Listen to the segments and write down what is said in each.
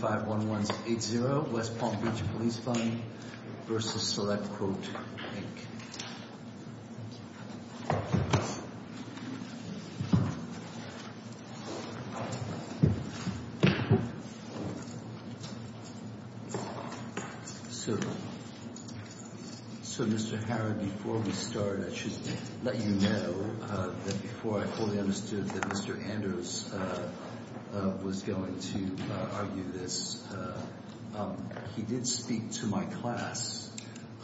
51180, West Palm Beach Police Fund v. SelectQuote, Inc. So Mr. Harrod, before we start, I should let you know that before I fully understood that Mr. Andrews was going to argue this, he did speak to my class,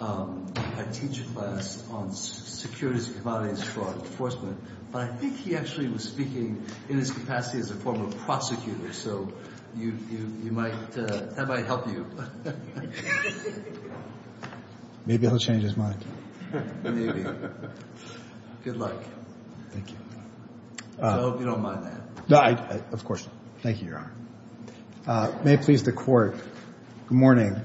my teacher class on securities and commodities fraud enforcement, but I think he actually was speaking in his capacity as a former prosecutor, so that might help you. Maybe he'll change his mind. Maybe. Good luck. Thank you. I hope you don't mind that. Of course not. Thank you, Your Honor. May it please the Court, good morning.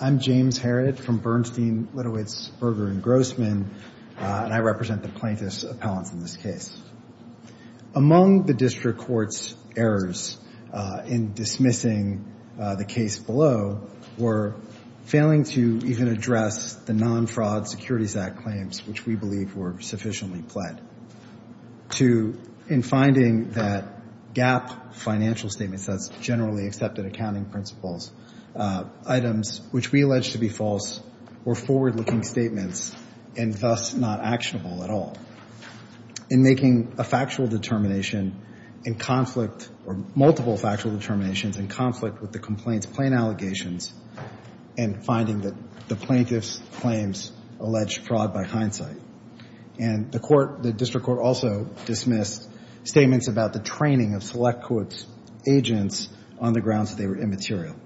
I'm James Harrod from Bernstein, Litovitz, Berger & Grossman, and I represent the plaintiffs' appellants in this case. Among the district court's errors in dismissing the case below were failing to even address the non-fraud Securities Act claims, which we believe were sufficiently pled, to in finding that GAAP financial statements, that's generally accepted accounting principles, items which we allege to be false or forward-looking statements and thus not actionable at all, in making a factual determination in conflict or multiple factual determinations in conflict with the complaint's plain allegations and finding that the plaintiff's claims allege fraud by hindsight. And the court, the district court also dismissed statements about the training of select quotes agents on the grounds that they were immaterial.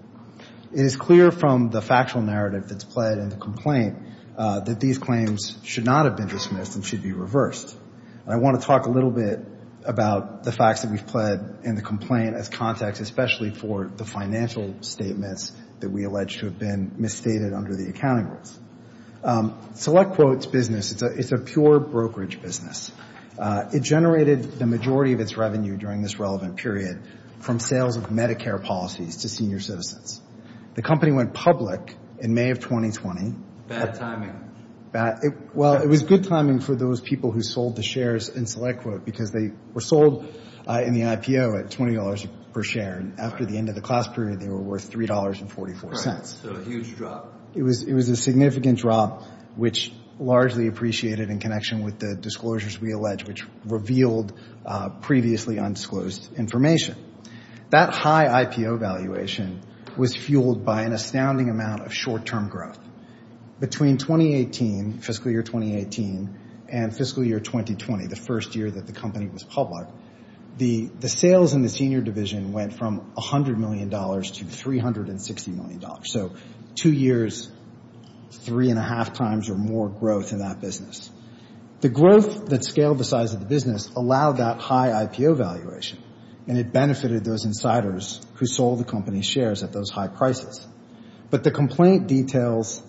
It is clear from the factual narrative that's pled in the complaint that these claims should not have been dismissed and should be reversed. I want to talk a little bit about the facts that we've pled in the complaint as context, especially for the financial statements that we allege to have been misstated under the accounting rules. Select Quote's business, it's a pure brokerage business. It generated the majority of its revenue during this relevant period from sales of Medicare policies to senior citizens. The company went public in May of 2020. Bad timing. Well, it was good timing for those people who sold the shares in Select Quote because they were sold in the IPO at $20 per share, and after the end of the class period they were worth $3.44. So a huge drop. It was a significant drop, which largely appreciated in connection with the disclosures we allege, which revealed previously undisclosed information. That high IPO valuation was fueled by an astounding amount of short-term growth. Between 2018, fiscal year 2018, and fiscal year 2020, the first year that the company was public, the sales in the senior division went from $100 million to $360 million. So two years, three and a half times or more growth in that business. The growth that scaled the size of the business allowed that high IPO valuation, and it benefited those insiders who sold the company's shares at those high prices. But the complaint details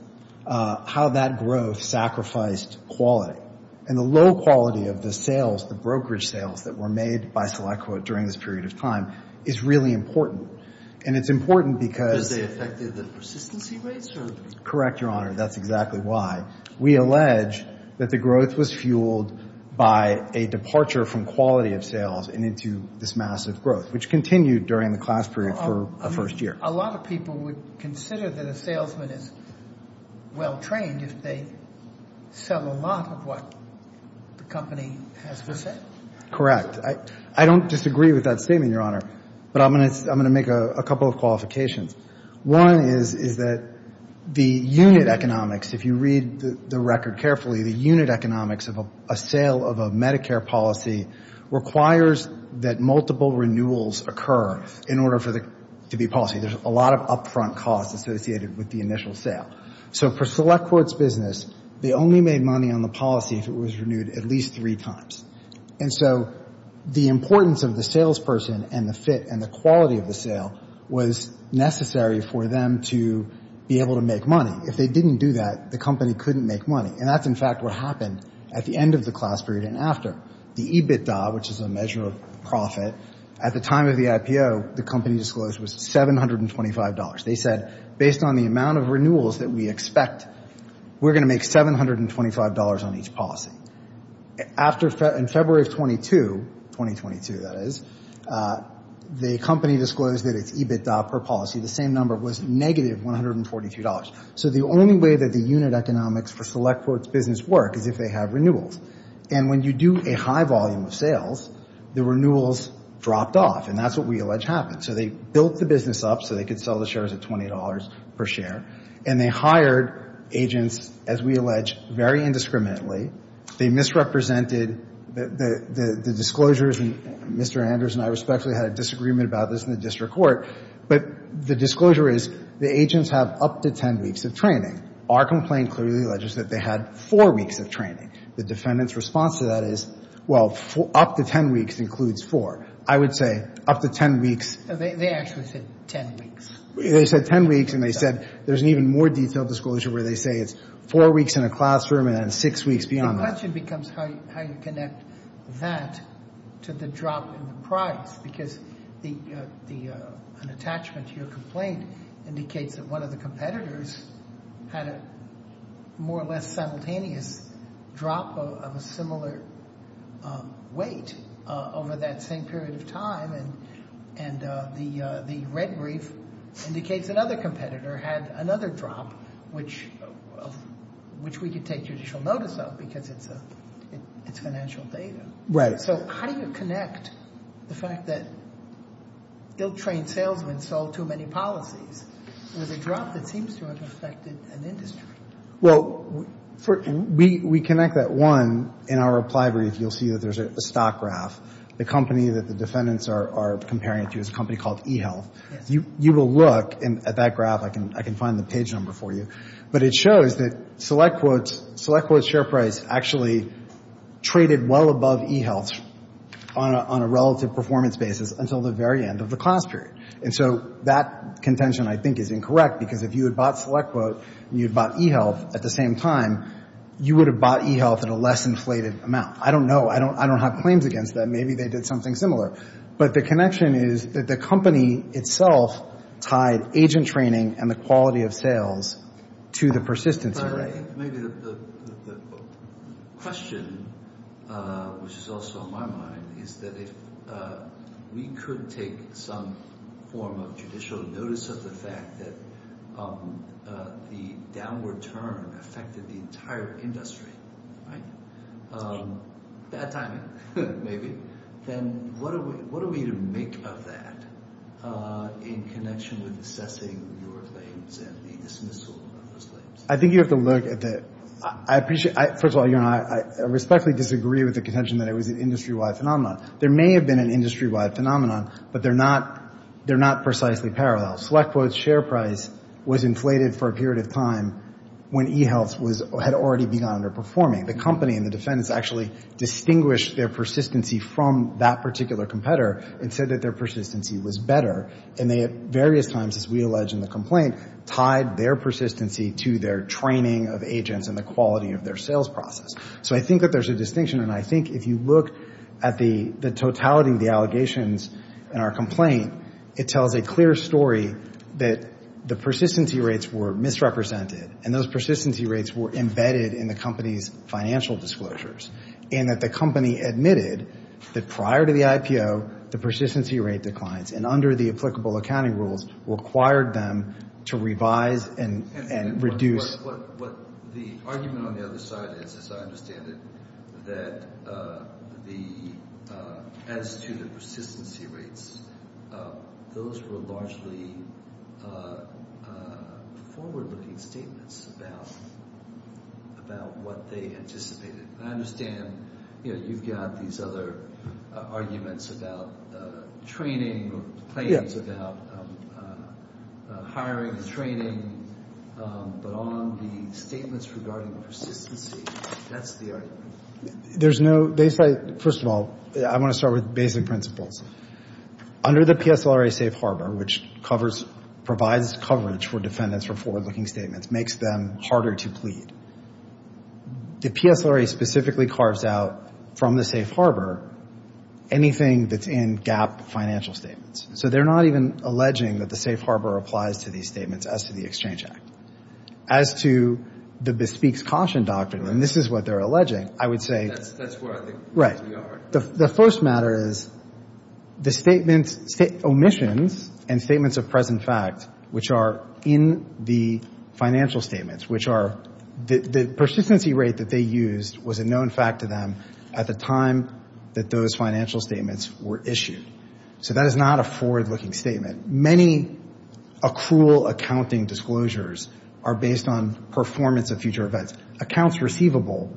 how that growth sacrificed quality, and the low quality of the sales, the brokerage sales that were made by Select Quote during this period of time, is really important, and it's important because they affected the persistency rates. Correct, Your Honor. That's exactly why. We allege that the growth was fueled by a departure from quality of sales and into this massive growth, which continued during the class period for the first year. A lot of people would consider that a salesman is well-trained if they sell a lot of what the company has to sell. Correct. I don't disagree with that statement, Your Honor, but I'm going to make a couple of qualifications. One is that the unit economics, if you read the record carefully, the unit economics of a sale of a Medicare policy requires that multiple renewals occur in order for there to be policy. There's a lot of upfront costs associated with the initial sale. So for Select Quote's business, they only made money on the policy if it was renewed at least three times. And so the importance of the salesperson and the fit and the quality of the sale was necessary for them to be able to make money. If they didn't do that, the company couldn't make money. And that's, in fact, what happened at the end of the class period and after. The EBITDA, which is a measure of profit, at the time of the IPO, the company disclosed was $725. They said, based on the amount of renewals that we expect, we're going to make $725 on each policy. In February of 22, 2022, that is, the company disclosed that its EBITDA per policy, the same number, was negative $143. So the only way that the unit economics for Select Quote's business work is if they have renewals. And when you do a high volume of sales, the renewals dropped off. And that's what we allege happened. So they built the business up so they could sell the shares at $20 per share. And they hired agents, as we allege, very indiscriminately. They misrepresented the disclosures. And Mr. Anders and I respectfully had a disagreement about this in the district court. But the disclosure is the agents have up to 10 weeks of training. Our complaint clearly alleges that they had four weeks of training. The defendant's response to that is, well, up to 10 weeks includes four. I would say up to 10 weeks. They actually said 10 weeks. They said 10 weeks. And they said there's an even more detailed disclosure where they say it's four weeks in a classroom and then six weeks beyond that. The question becomes how you connect that to the drop in the price. Because an attachment to your complaint indicates that one of the competitors had a more or less simultaneous drop of a similar weight over that same period of time. And the red brief indicates another competitor had another drop, which we could take judicial notice of because it's financial data. Right. So how do you connect the fact that ill-trained salesmen sold too many policies? It was a drop that seems to have affected an industry. Well, we connect that, one, in our reply brief, you'll see that there's a stock graph. The company that the defendants are comparing it to is a company called eHealth. You will look at that graph. I can find the page number for you. But it shows that SelectQuote's share price actually traded well above eHealth's on a relative performance basis until the very end of the class period. And so that contention, I think, is incorrect because if you had bought SelectQuote and you had bought eHealth at the same time, you would have bought eHealth at a less inflated amount. I don't know. I don't have claims against that. Maybe they did something similar. But the connection is that the company itself tied agent training and the quality of sales to the persistence. Maybe the question, which is also on my mind, is that if we could take some form of judicial notice of the fact that the downward turn affected the entire industry, right? Bad timing. Bad timing, maybe. Then what are we to make of that in connection with assessing your claims and the dismissal of those claims? I think you have to look at the – first of all, I respectfully disagree with the contention that it was an industry-wide phenomenon. There may have been an industry-wide phenomenon, but they're not precisely parallel. SelectQuote's share price was inflated for a period of time when eHealth had already begun underperforming. The company and the defendants actually distinguished their persistency from that particular competitor and said that their persistency was better. And they at various times, as we allege in the complaint, tied their persistency to their training of agents and the quality of their sales process. So I think that there's a distinction, and I think if you look at the totality of the allegations in our complaint, it tells a clear story that the persistency rates were misrepresented and those persistency rates were embedded in the company's financial disclosures and that the company admitted that prior to the IPO, the persistency rate declines and under the applicable accounting rules required them to revise and reduce. The argument on the other side is, as I understand it, that as to the persistency rates, those were largely forward-looking statements about what they anticipated. I understand, you know, you've got these other arguments about training or claims about hiring, training. But on the statements regarding persistency, that's the argument. There's no – they say – first of all, I want to start with basic principles. Under the PSLRA safe harbor, which covers – provides coverage for defendants for forward-looking statements, makes them harder to plead. The PSLRA specifically carves out from the safe harbor anything that's in GAAP financial statements. So they're not even alleging that the safe harbor applies to these statements as to the Exchange Act. As to the bespeaks caution doctrine, and this is what they're alleging, I would say – That's where I think we are. The first matter is the statements – omissions and statements of present fact which are in the financial statements, which are the persistency rate that they used was a known fact to them at the time that those financial statements were issued. So that is not a forward-looking statement. Many accrual accounting disclosures are based on performance of future events. Accounts receivable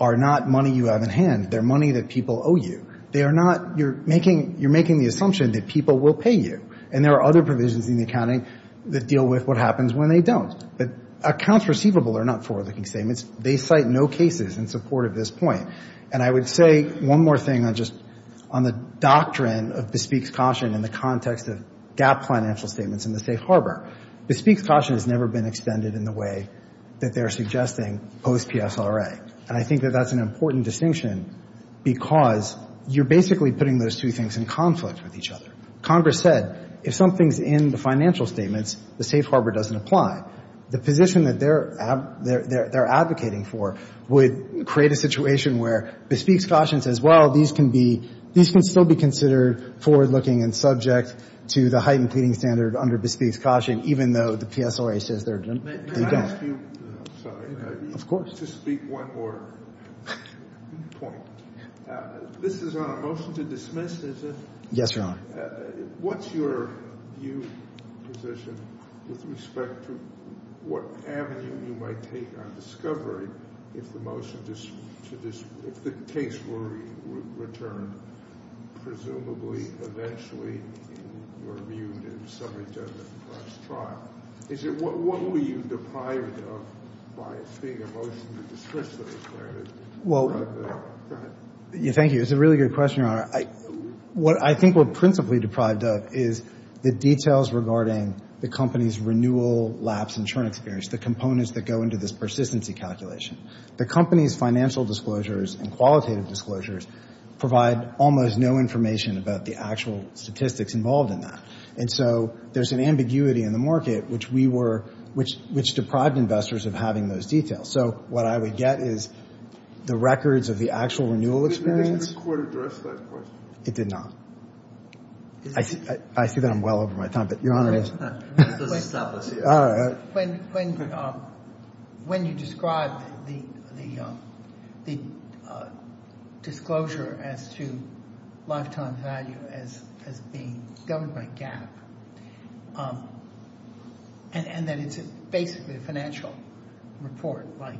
are not money you have in hand. They're money that people owe you. They are not – you're making – you're making the assumption that people will pay you. And there are other provisions in the accounting that deal with what happens when they don't. But accounts receivable are not forward-looking statements. They cite no cases in support of this point. And I would say one more thing on just – on the doctrine of bespeaks caution in the context of GAAP financial statements in the safe harbor. Bespeaks caution has never been extended in the way that they are suggesting post-PSLRA. And I think that that's an important distinction because you're basically putting those two things in conflict with each other. Congress said if something's in the financial statements, the safe harbor doesn't apply. The position that they're advocating for would create a situation where bespeaks caution says, well, these can be – these can still be considered forward-looking and subject to the heightened pleading standard under bespeaks caution, even though the PSLRA says they're – they don't. Let me ask you – sorry. Of course. To speak one more point. This is on a motion to dismiss. Yes, Your Honor. What's your view, position, with respect to what avenue you might take on discovery if the motion to – if the case were returned, presumably, eventually, in your view, to the summary judgment of the first trial? Is it – what were you deprived of by it being a motion to dismiss the discredited? Well – Go ahead. Thank you. It's a really good question, Your Honor. What I think we're principally deprived of is the details regarding the company's renewal lapse insurance experience, the components that go into this persistency calculation. The company's financial disclosures and qualitative disclosures provide almost no information about the actual statistics involved in that. And so there's an ambiguity in the market, which we were – which deprived investors of having those details. So what I would get is the records of the actual renewal experience. Did the court address that question? It did not. I see that I'm well over my time, but Your Honor – Let's stop this here. When you describe the disclosure as to lifetime value as being governed by GAAP and that it's basically a financial report like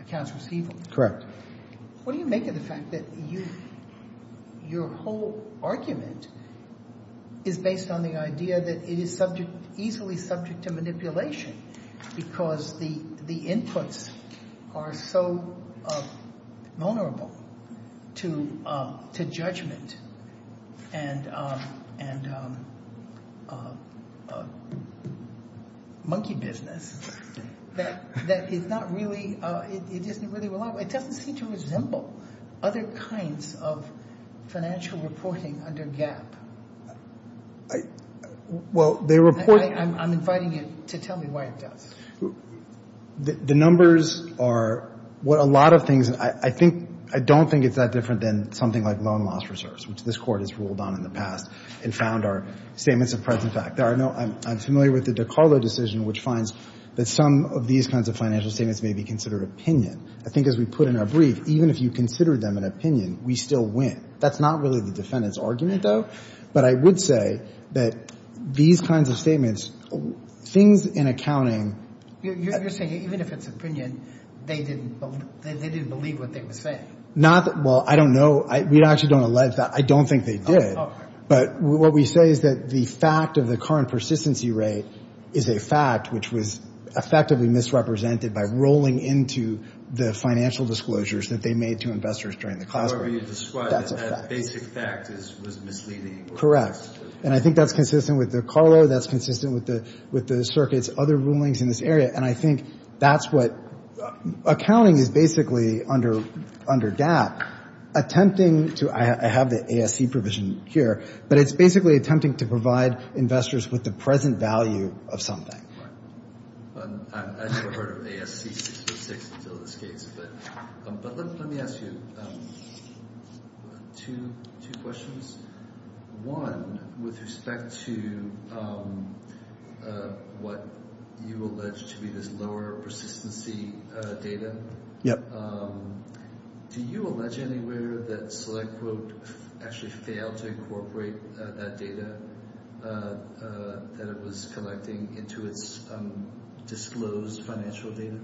accounts receivable. Correct. What do you make of the fact that your whole argument is based on the idea that it is subject – easily subject to manipulation because the inputs are so vulnerable to judgment and monkey business that it's not really – it isn't really reliable. It doesn't seem to resemble other kinds of financial reporting under GAAP. Well, they report – I'm inviting you to tell me why it does. The numbers are what a lot of things – I think – I don't think it's that different than something like loan loss reserves, which this Court has ruled on in the past and found are statements of present fact. There are no – I'm familiar with the DiCarlo decision, which finds that some of these kinds of financial statements may be considered opinion. I think as we put in our brief, even if you consider them an opinion, we still win. That's not really the defendant's argument, though. But I would say that these kinds of statements – things in accounting – You're saying even if it's opinion, they didn't believe what they were saying. Not – well, I don't know. We actually don't allege that. I don't think they did. But what we say is that the fact of the current persistency rate is a fact, which was effectively misrepresented by rolling into the financial disclosures that they made to investors during the classroom. However you describe it, that basic fact was misleading. Correct. And I think that's consistent with DiCarlo. That's consistent with the circuit's other rulings in this area. And I think that's what – accounting is basically, under GAAP, attempting to – I have the ASC provision here. But it's basically attempting to provide investors with the present value of something. I've never heard of ASC 656 until this case. But let me ask you two questions. One, with respect to what you allege to be this lower persistency data, do you allege anywhere that SelectQuote actually failed to incorporate that data that it was collecting into its disclosed financial data?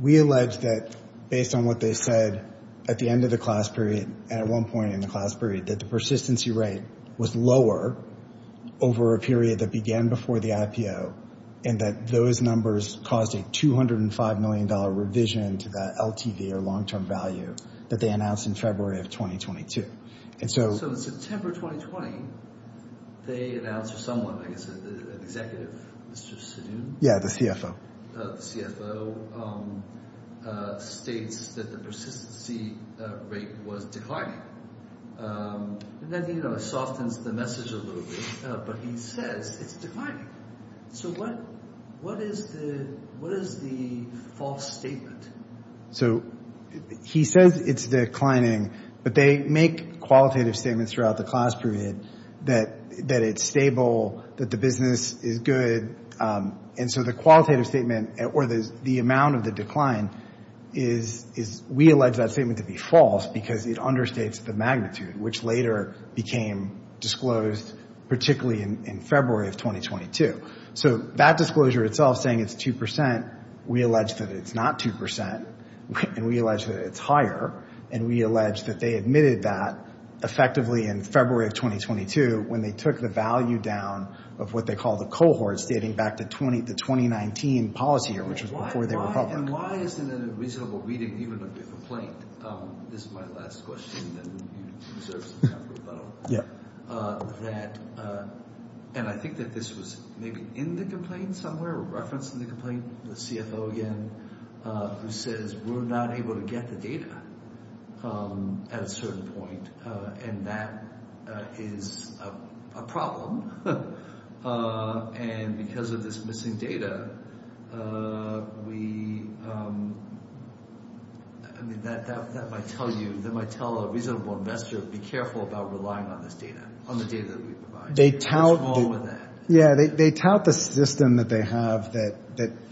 We allege that based on what they said at the end of the class period, and at one point in the class period, that the persistency rate was lower over a period that began before the IPO and that those numbers caused a $205 million revision to that LTV, or long-term value, that they announced in February of 2022. So in September 2020, they announced – or someone, I guess an executive, Mr. Sidhu? Yeah, the CFO. The CFO states that the persistency rate was declining. And that softens the message a little bit. But he says it's declining. So what is the false statement? So he says it's declining, but they make qualitative statements throughout the class period that it's stable, that the business is good. And so the qualitative statement or the amount of the decline is – we allege that statement to be false because it understates the magnitude, which later became disclosed, particularly in February of 2022. So that disclosure itself, saying it's 2%, we allege that it's not 2%, and we allege that it's higher, and we allege that they admitted that effectively in February of 2022 when they took the value down of what they call the cohort, stating back the 2019 policy year, which was before they were public. And why isn't it a reasonable reading even of the complaint? This is my last question, and then you deserve some time for rebuttal. Yeah. And I think that this was maybe in the complaint somewhere or referenced in the complaint, the CFO again, who says we're not able to get the data at a certain point, and that is a problem. And because of this missing data, we – I mean, that might tell you – that might tell a reasonable investor to be careful about relying on this data, on the data that we provide. What's wrong with that? Yeah, they tout the system that they have that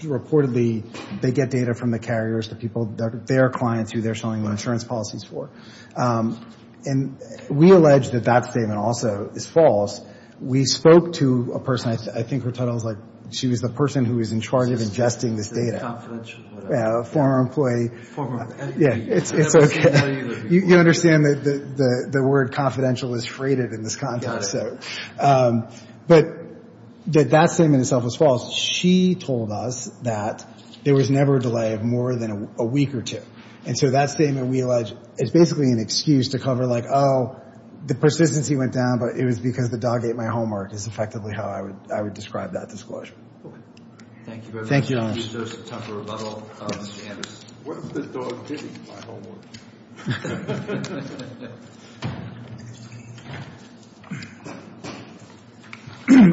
reportedly they get data from the carriers, the people, their clients who they're selling the insurance policies for. And we allege that that statement also is false. We spoke to a person – I think her title is, like, she was the person who was in charge of ingesting this data. Confidential, whatever. Yeah, a former employee. Former – Yeah, it's okay. You understand that the word confidential is freighted in this context. Got it. But that statement itself was false. She told us that there was never a delay of more than a week or two. And so that statement, we allege, is basically an excuse to cover, like, Oh, the persistency went down, but it was because the dog ate my homework, is effectively how I would describe that disclosure. Okay. Thank you very much. Thank you, Alex. What if the dog did eat my homework?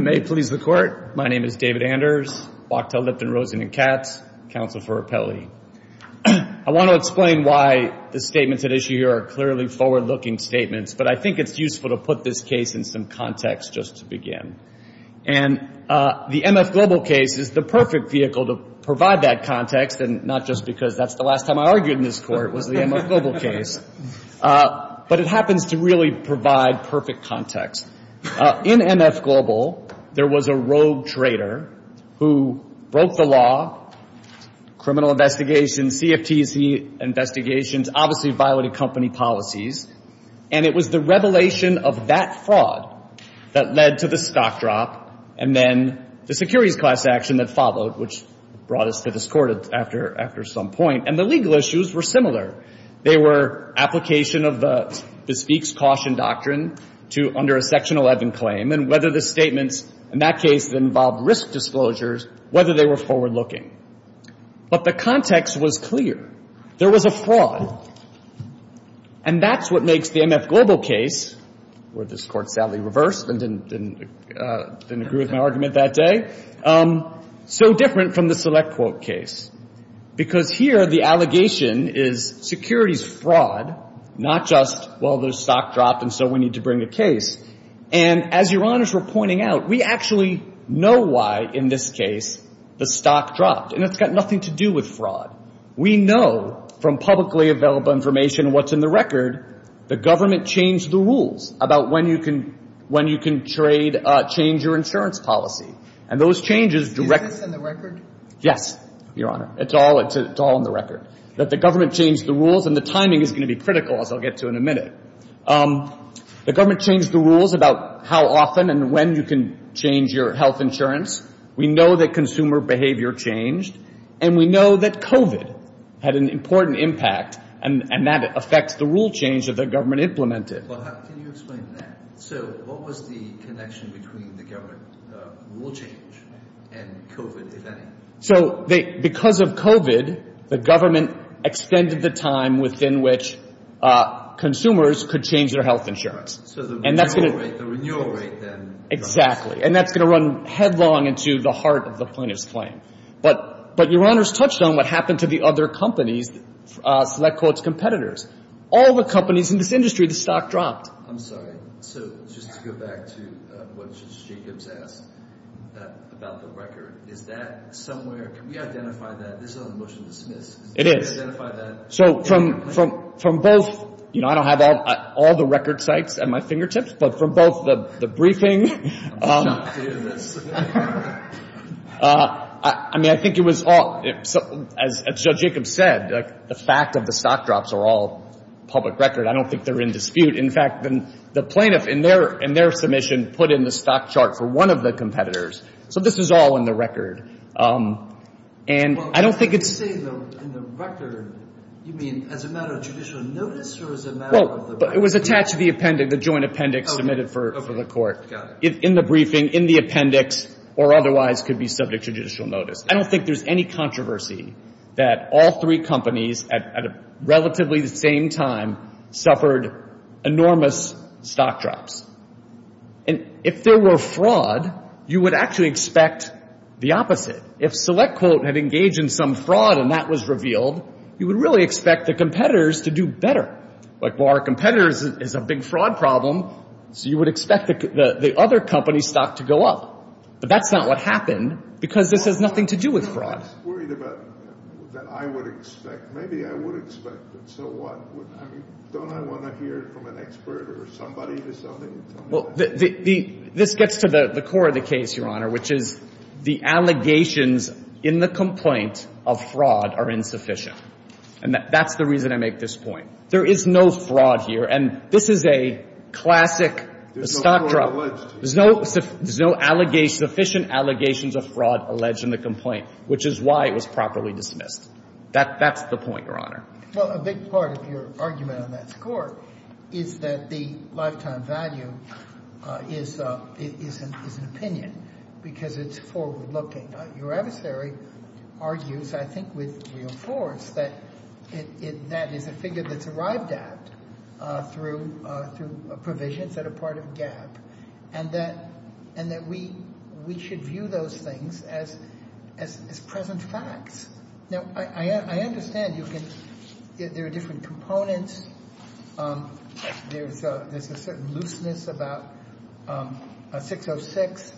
May it please the Court, my name is David Anders, Wachtell, Lipton, Rosen and Katz, counsel for Appellee. I want to explain why the statements at issue here are clearly forward-looking statements, but I think it's useful to put this case in some context just to begin. And the MF Global case is the perfect vehicle to provide that context, and not just because that's the last time I argued in this Court was the MF Global case, but it happens to really provide perfect context. In MF Global, there was a rogue trader who broke the law, criminal investigations, CFTC investigations, obviously violated company policies, and it was the revelation of that fraud that led to the stock drop and then the securities class action that followed, which brought us to this Court after some point. And the legal issues were similar. They were application of the speaks, caution doctrine under a Section 11 claim, and whether the statements in that case involved risk disclosures, whether they were forward-looking. But the context was clear. There was a fraud, and that's what makes the MF Global case, where this Court sadly reversed and didn't agree with my argument that day, so different from the select quote case, because here the allegation is securities fraud, not just, well, there's stock drop and so we need to bring a case. And as Your Honors were pointing out, we actually know why in this case the stock dropped, and it's got nothing to do with fraud. We know from publicly available information what's in the record, the government changed the rules about when you can trade, change your insurance policy. And those changes directly. Is this in the record? Yes, Your Honor. It's all in the record, that the government changed the rules, and the timing is going to be critical, as I'll get to in a minute. The government changed the rules about how often and when you can change your health insurance. We know that consumer behavior changed, and we know that COVID had an important impact, and that affects the rule change that the government implemented. Well, can you explain that? So what was the connection between the government rule change and COVID, if any? So because of COVID, the government extended the time within which consumers could change their health insurance. So the renewal rate then. Exactly. And that's going to run headlong into the heart of the plaintiff's claim. But Your Honors touched on what happened to the other companies, select quotes competitors. All the companies in this industry, the stock dropped. I'm sorry. So just to go back to what Justice Jacobs asked about the record, is that somewhere, can we identify that? It is. So from both, you know, I don't have all the record sites at my fingertips, but from both the briefing, I mean, I think it was all, as Judge Jacobs said, the fact of the stock drops are all public record. I don't think they're in dispute. In fact, the plaintiff in their submission put in the stock chart for one of the competitors. So this is all in the record. Well, when you say in the record, you mean as a matter of judicial notice or as a matter of the record? Well, it was attached to the appendix, the joint appendix submitted for the court. Got it. In the briefing, in the appendix, or otherwise could be subject to judicial notice. I don't think there's any controversy that all three companies, at relatively the same time, suffered enormous stock drops. And if there were fraud, you would actually expect the opposite. If SelectQuote had engaged in some fraud and that was revealed, you would really expect the competitors to do better. Like, well, our competitors is a big fraud problem, so you would expect the other company's stock to go up. But that's not what happened because this has nothing to do with fraud. I'm just worried about that I would expect. Maybe I would expect, but so what? Don't I want to hear from an expert or somebody or something? Well, this gets to the core of the case, Your Honor, which is the allegations in the complaint of fraud are insufficient. And that's the reason I make this point. There is no fraud here. And this is a classic stock drop. There's no fraud alleged. There's no sufficient allegations of fraud alleged in the complaint, which is why it was properly dismissed. That's the point, Your Honor. Well, a big part of your argument on that score is that the lifetime value is an opinion because it's forward-looking. Your adversary argues, I think with real force, that that is a figure that's arrived at through provisions that are part of GAAP and that we should view those things as present facts. Now, I understand there are different components. There's a certain looseness about 606.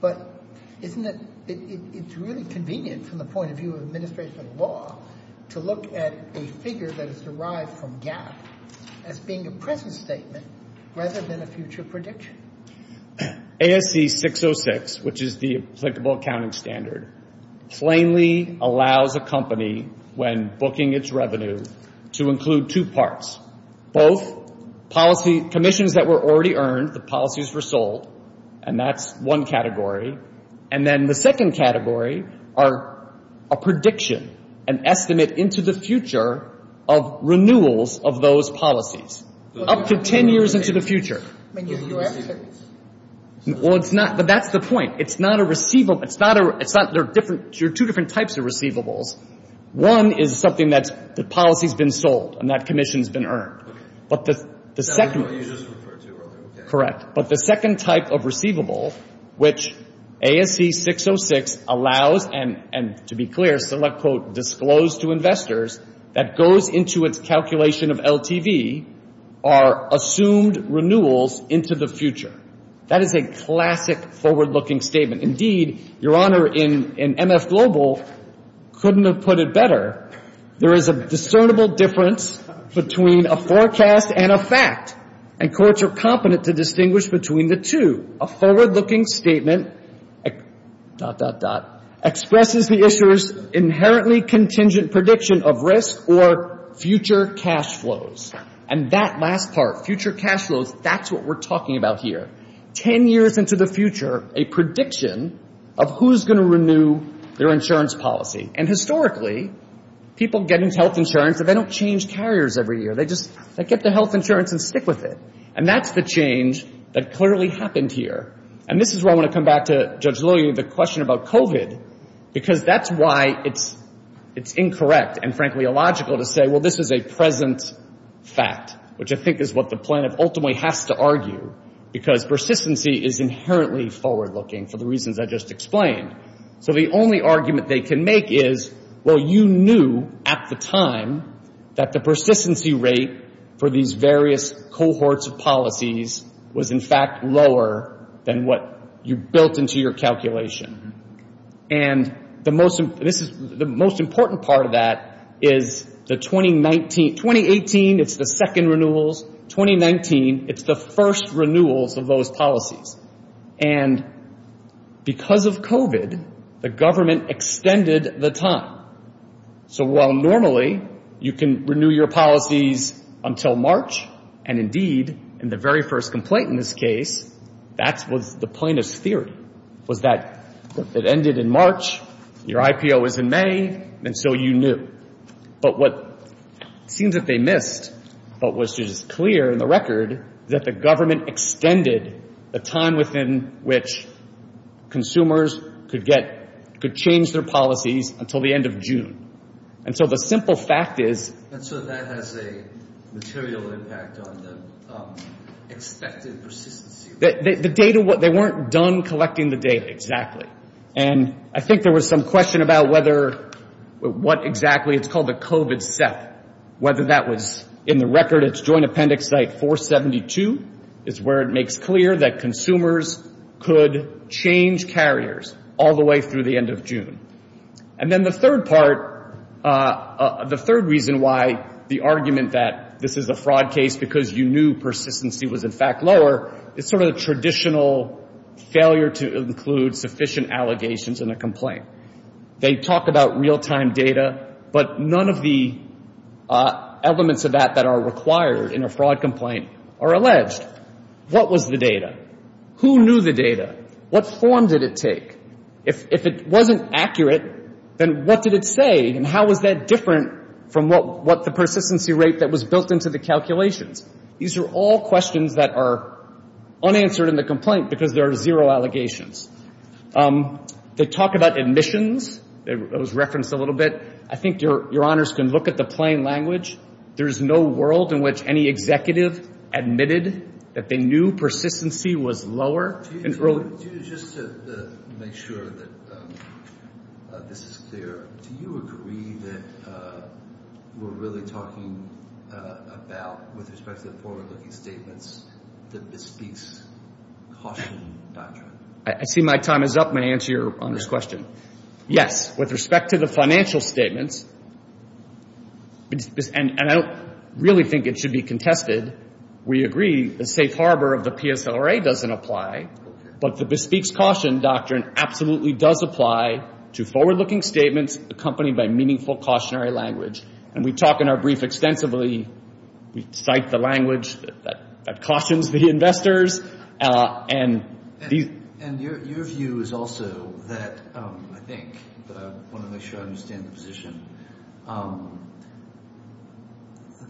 But isn't it really convenient from the point of view of administrative law to look at a figure that is derived from GAAP as being a present statement rather than a future prediction? ASC 606, which is the applicable accounting standard, plainly allows a company, when booking its revenue, to include two parts. Both policy commissions that were already earned, the policies were sold, and that's one category. And then the second category are a prediction, an estimate into the future of renewals of those policies, up to 10 years into the future. Well, it's not. But that's the point. It's not a receivable. There are two different types of receivables. One is something that the policy's been sold and that commission's been earned. But the second— That's what you just referred to earlier. Correct. But the second type of receivable, which ASC 606 allows and, to be clear, quote, disclose to investors, that goes into its calculation of LTV, are assumed renewals into the future. That is a classic forward-looking statement. Indeed, Your Honor, in MF Global, couldn't have put it better. There is a discernible difference between a forecast and a fact, and courts are competent to distinguish between the two. A forward-looking statement, dot, dot, dot, expresses the issuer's inherently contingent prediction of risk or future cash flows. And that last part, future cash flows, that's what we're talking about here. Ten years into the future, a prediction of who's going to renew their insurance policy. And historically, people get health insurance and they don't change carriers every year. They just get the health insurance and stick with it. And that's the change that clearly happened here. And this is where I want to come back to Judge Lillian, the question about COVID, because that's why it's incorrect and, frankly, illogical to say, well, this is a present fact, which I think is what the plaintiff ultimately has to argue, because persistency is inherently forward-looking for the reasons I just explained. So the only argument they can make is, well, you knew at the time that the persistency rate for these various cohorts of policies was, in fact, lower than what you built into your calculation. And the most important part of that is the 2018, it's the second renewals. 2019, it's the first renewals of those policies. And because of COVID, the government extended the time. So while normally you can renew your policies until March, and indeed in the very first complaint in this case, that was the plaintiff's theory, was that it ended in March, your IPO is in May, and so you knew. But what it seems that they missed, but which is clear in the record, is that the government extended the time within which consumers could get, could change their policies until the end of June. And so the simple fact is. And so that has a material impact on the expected persistency rate. The data, they weren't done collecting the data exactly. And I think there was some question about whether, what exactly. It's called the COVID set. Whether that was in the record, it's joint appendix 472, is where it makes clear that consumers could change carriers all the way through the end of June. And then the third part, the third reason why the argument that this is a fraud case because you knew persistency was, in fact, lower, it's sort of the traditional failure to include sufficient allegations in a complaint. They talk about real-time data, but none of the elements of that that are required in a fraud complaint are alleged. What was the data? Who knew the data? What form did it take? If it wasn't accurate, then what did it say? And how was that different from what the persistency rate that was built into the calculations? These are all questions that are unanswered in the complaint because there are zero allegations. They talk about admissions. It was referenced a little bit. I think Your Honors can look at the plain language. There is no world in which any executive admitted that they knew persistency was lower. Just to make sure that this is clear, do you agree that we're really talking about, with respect to the forward-looking statements, the bespeaks caution doctrine? I see my time is up. May I answer Your Honors' question? Yes. With respect to the financial statements, and I don't really think it should be contested, we agree the safe harbor of the PSLRA doesn't apply, but the bespeaks caution doctrine absolutely does apply to forward-looking statements accompanied by meaningful cautionary language. And we talk in our brief extensively. We cite the language that cautions the investors. And your view is also that, I think, but I want to make sure I understand the position,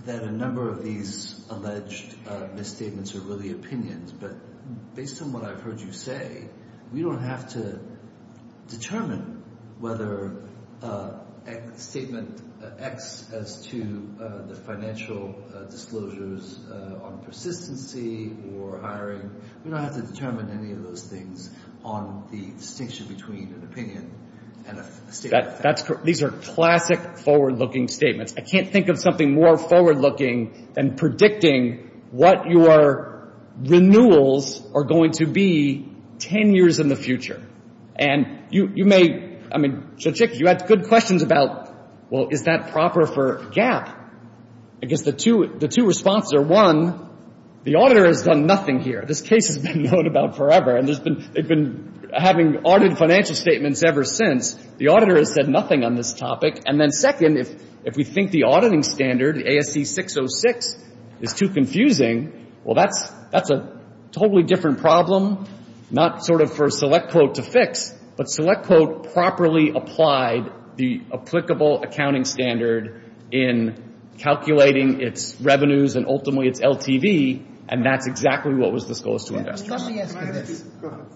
that a number of these alleged misstatements are really opinions. But based on what I've heard you say, we don't have to determine whether statement X as to the financial disclosures on persistency or hiring. We don't have to determine any of those things on the distinction between an opinion and a statement. These are classic forward-looking statements. I can't think of something more forward-looking than predicting what your renewals are going to be 10 years in the future. And you may, I mean, so, Chick, you had good questions about, well, is that proper for GAAP? I guess the two responses are, one, the auditor has done nothing here. This case has been known about forever, and they've been having audited financial statements ever since. The auditor has said nothing on this topic. And then, second, if we think the auditing standard, the ASC 606, is too confusing, well, that's a totally different problem, not sort of for SelectQuote to fix, but SelectQuote properly applied the applicable accounting standard in calculating its revenues and ultimately its LTV, and that's exactly what was disclosed to investors. Go ahead.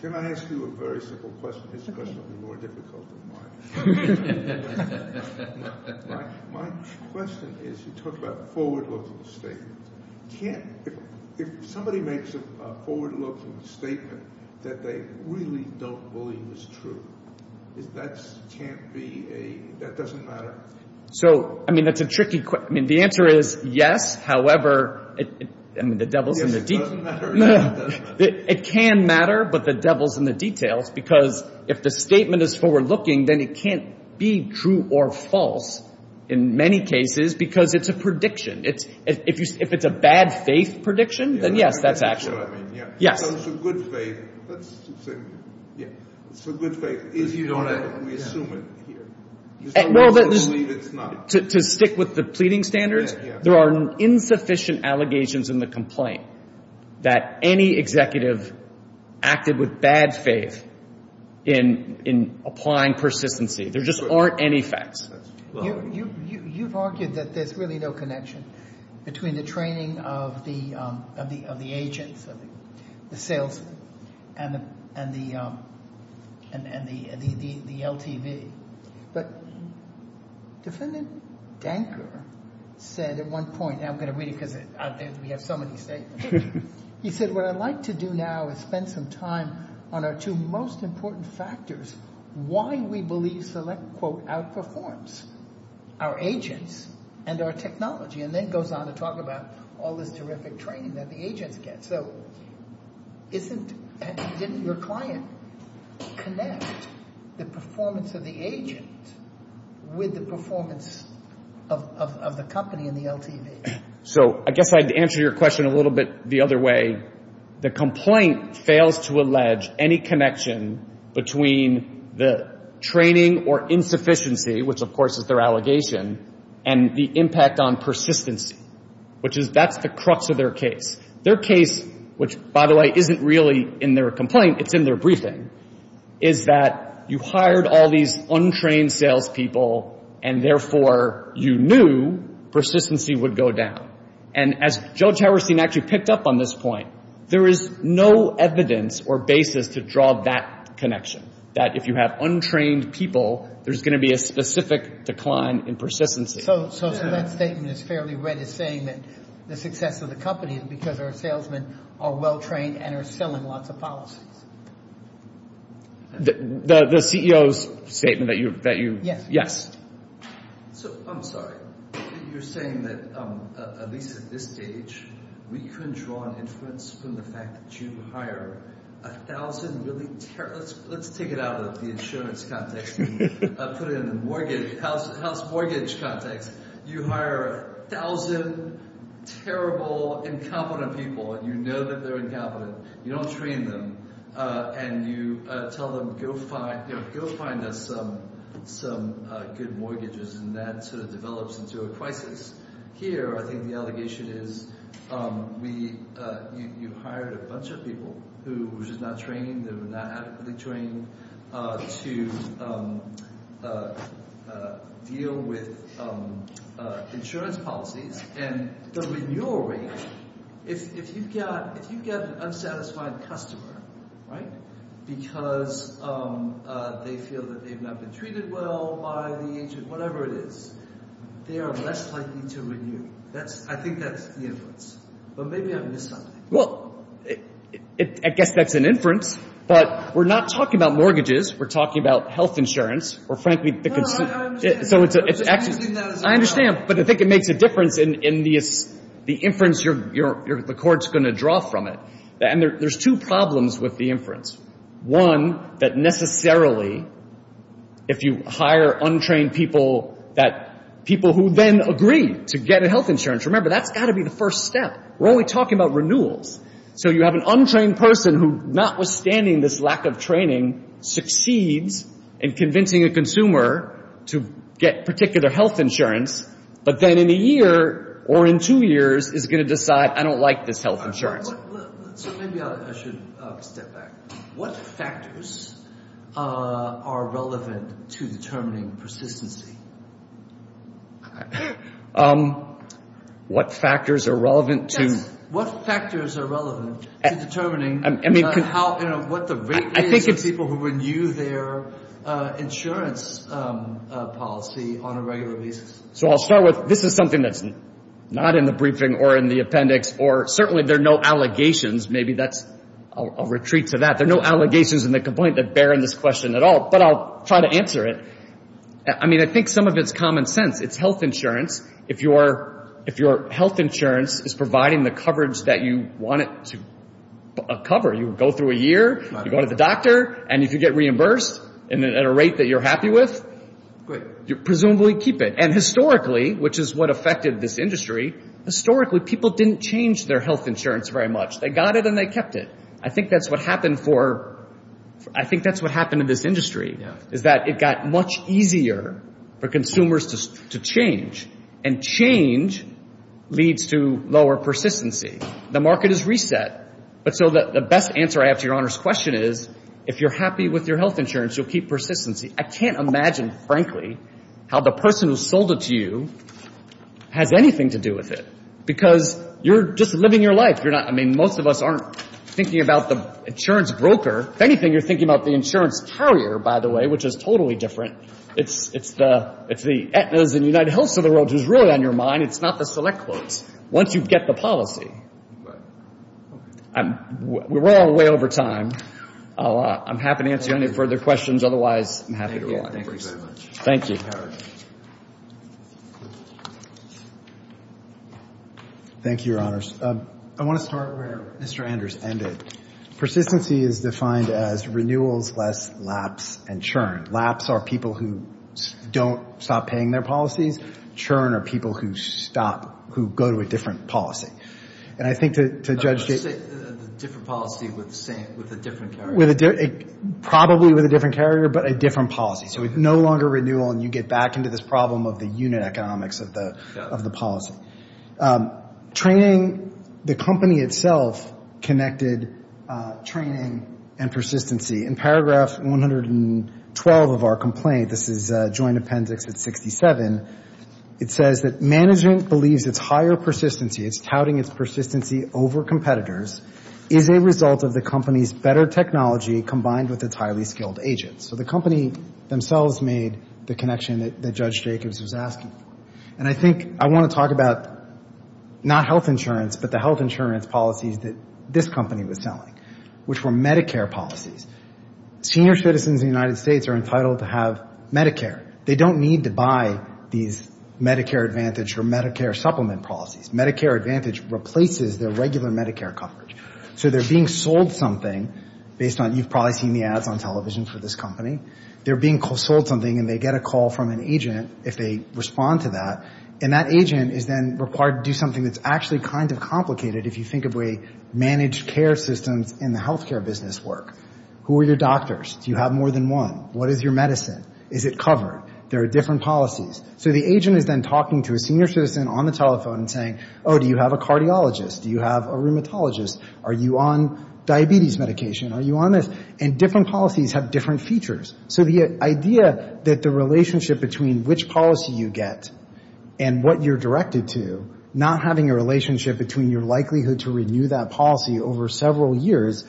Can I ask you a very simple question? This question will be more difficult than mine. My question is, you talked about forward-looking statements. Can't, if somebody makes a forward-looking statement that they really don't believe is true, that can't be a, that doesn't matter? So, I mean, that's a tricky question. I mean, the answer is yes, however, I mean, the devil's in the deep. It doesn't matter. It can matter, but the devil's in the details, because if the statement is forward-looking, then it can't be true or false, in many cases, because it's a prediction. If it's a bad-faith prediction, then yes, that's actually true. So, it's a good faith. Let's say, yeah, it's a good faith. We assume it here. There's no way to believe it's not. To stick with the pleading standards, there are insufficient allegations in the complaint that any executive acted with bad faith in applying persistency. There just aren't any facts. You've argued that there's really no connection between the training of the agents, the salesmen, and the LTV. But Defendant Danker said at one point, and I'm going to read it because we have so many statements, he said, what I'd like to do now is spend some time on our two most important factors, why we believe select, quote, outperforms our agents and our technology, and then goes on to talk about all this terrific training that the agents get. So, didn't your client connect the performance of the agent with the performance of the company and the LTV? So, I guess I'd answer your question a little bit the other way. The complaint fails to allege any connection between the training or insufficiency, which of course is their allegation, and the impact on persistency, which is that's the crux of their case. Their case, which, by the way, isn't really in their complaint, it's in their briefing, is that you hired all these untrained salespeople, and therefore you knew persistency would go down. And as Judge Howerstein actually picked up on this point, there is no evidence or basis to draw that connection, that if you have untrained people, there's going to be a specific decline in persistency. So, that statement is fairly read as saying that the success of the company is because our salesmen are well-trained and are selling lots of policies. The CEO's statement that you... Yes. Yes. So, I'm sorry. You're saying that, at least at this stage, we couldn't draw an inference from the fact that you hire a thousand really terrible... Let's take it out of the insurance context and put it in the house mortgage context. You hire a thousand terrible, incompetent people, and you know that they're incompetent, you don't train them, and you tell them, go find us some good mortgages, and that sort of develops into a crisis. Here, I think the allegation is you hired a bunch of people who were just not trained, who were not adequately trained to deal with insurance policies, and the renewal rate, if you get an unsatisfied customer, right, because they feel that they've not been treated well by the agent, whatever it is, they are less likely to renew. I think that's the inference. But maybe I missed something. Well, I guess that's an inference, but we're not talking about mortgages. We're talking about health insurance. No, I understand. I understand, but I think it makes a difference in the inference the court's going to draw from it. And there's two problems with the inference. One, that necessarily, if you hire untrained people, people who then agree to get a health insurance, remember, that's got to be the first step. We're only talking about renewals. So you have an untrained person who, notwithstanding this lack of training, succeeds in convincing a consumer to get particular health insurance, but then in a year or in two years is going to decide, I don't like this health insurance. So maybe I should step back. What factors are relevant to determining persistency? What factors are relevant to determining what the rate is of people who renew their insurance policy on a regular basis? So I'll start with, this is something that's not in the briefing or in the appendix, or certainly there are no allegations. Maybe that's a retreat to that. There are no allegations in the complaint that bear in this question at all, but I'll try to answer it. I mean, I think some of it's common sense. It's health insurance. If your health insurance is providing the coverage that you want it to cover, you go through a year, you go to the doctor, and if you get reimbursed at a rate that you're happy with, you presumably keep it. And historically, which is what affected this industry, historically people didn't change their health insurance very much. They got it and they kept it. I think that's what happened for, I think that's what happened in this industry, is that it got much easier for consumers to change. And change leads to lower persistency. The market is reset. But so the best answer I have to Your Honor's question is, if you're happy with your health insurance, you'll keep persistency. I can't imagine, frankly, how the person who sold it to you has anything to do with it, because you're just living your life. You're not, I mean, most of us aren't thinking about the insurance broker. If anything, you're thinking about the insurance carrier, by the way, which is totally different. It's the Aetnas and United Health of the World, which is really on your mind. It's not the select quotes. Once you get the policy. We're all way over time. I'm happy to answer any further questions. Otherwise, I'm happy to rewind. Thank you very much. Thank you. Thank you, Your Honors. I want to start where Mr. Anders ended. Persistency is defined as renewals less lapse and churn. Lapse are people who don't stop paying their policies. Churn are people who stop, who go to a different policy. And I think to Judge Gates Different policy with a different carrier. Probably with a different carrier, but a different policy. So it's no longer renewal, and you get back into this problem of the unit economics of the policy. Training, the company itself, connected training and persistency. In paragraph 112 of our complaint, this is joint appendix at 67, it says that management believes its higher persistency, it's touting its persistency over competitors, is a result of the company's better technology combined with its highly skilled agents. So the company themselves made the connection that Judge Jacobs was asking. And I think I want to talk about not health insurance, but the health insurance policies that this company was selling, which were Medicare policies. Senior citizens in the United States are entitled to have Medicare. They don't need to buy these Medicare Advantage or Medicare supplement policies. Medicare Advantage replaces their regular Medicare coverage. So they're being sold something based on, you've probably seen the ads on television for this company, they're being sold something and they get a call from an agent if they respond to that, and that agent is then required to do something that's actually kind of complicated if you think of the way managed care systems in the health care business work. Who are your doctors? Do you have more than one? What is your medicine? Is it covered? There are different policies. So the agent is then talking to a senior citizen on the telephone and saying, oh, do you have a cardiologist? Do you have a rheumatologist? Are you on diabetes medication? Are you on this? And different policies have different features. So the idea that the relationship between which policy you get and what you're directed to, not having a relationship between your likelihood to renew that policy over several years,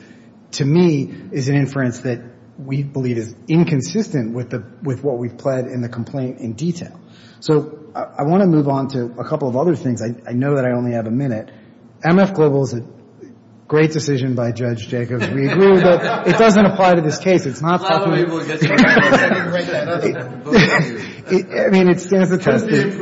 to me, is an inference that we believe is inconsistent with what we've pled in the complaint in detail. So I want to move on to a couple of other things. I know that I only have a minute. MF Global is a great decision by Judge Jacobs. We agree that it doesn't apply to this case. It's not. I mean, it stands attested.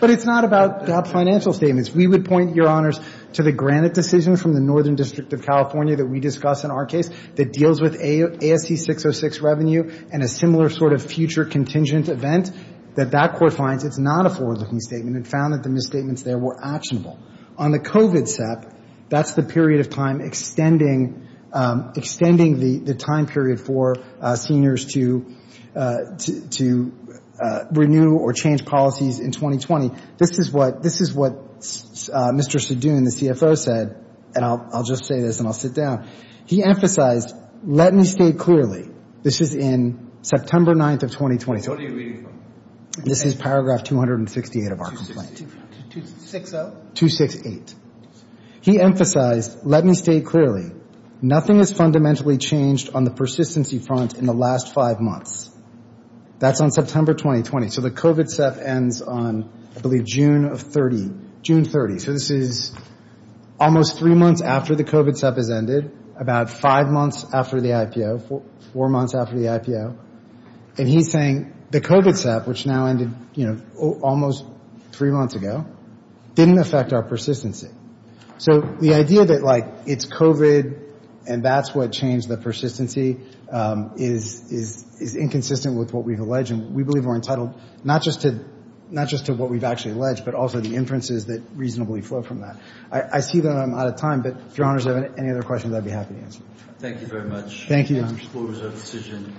But it's not about financial statements. We would point, Your Honors, to the Granite decision from the Northern District of California that we discussed in our case that deals with ASC-606 revenue and a similar sort of future contingent event, that that court finds it's not a forward-looking statement and found that the misstatements there were actionable. On the COVID SEP, that's the period of time extending the time period for seniors to renew or change policies in 2020. This is what Mr. Sedoon, the CFO, said, and I'll just say this and I'll sit down. He emphasized, let me state clearly, this is in September 9th of 2020. What are you reading from? This is paragraph 268 of our complaint. 268. He emphasized, let me state clearly, nothing has fundamentally changed on the persistency front in the last five months. That's on September 2020. So the COVID SEP ends on, I believe, June of 30, June 30. So this is almost three months after the COVID SEP has ended, about five months after the IPO, four months after the IPO. And he's saying the COVID SEP, which now ended almost three months ago, didn't affect our persistency. So the idea that it's COVID and that's what changed the persistency is inconsistent with what we've alleged, and we believe we're entitled not just to what we've actually alleged, but also the inferences that reasonably flow from that. I see that I'm out of time, but if Your Honors have any other questions, I'd be happy to answer. Thank you very much. Thank you. This concludes our decision.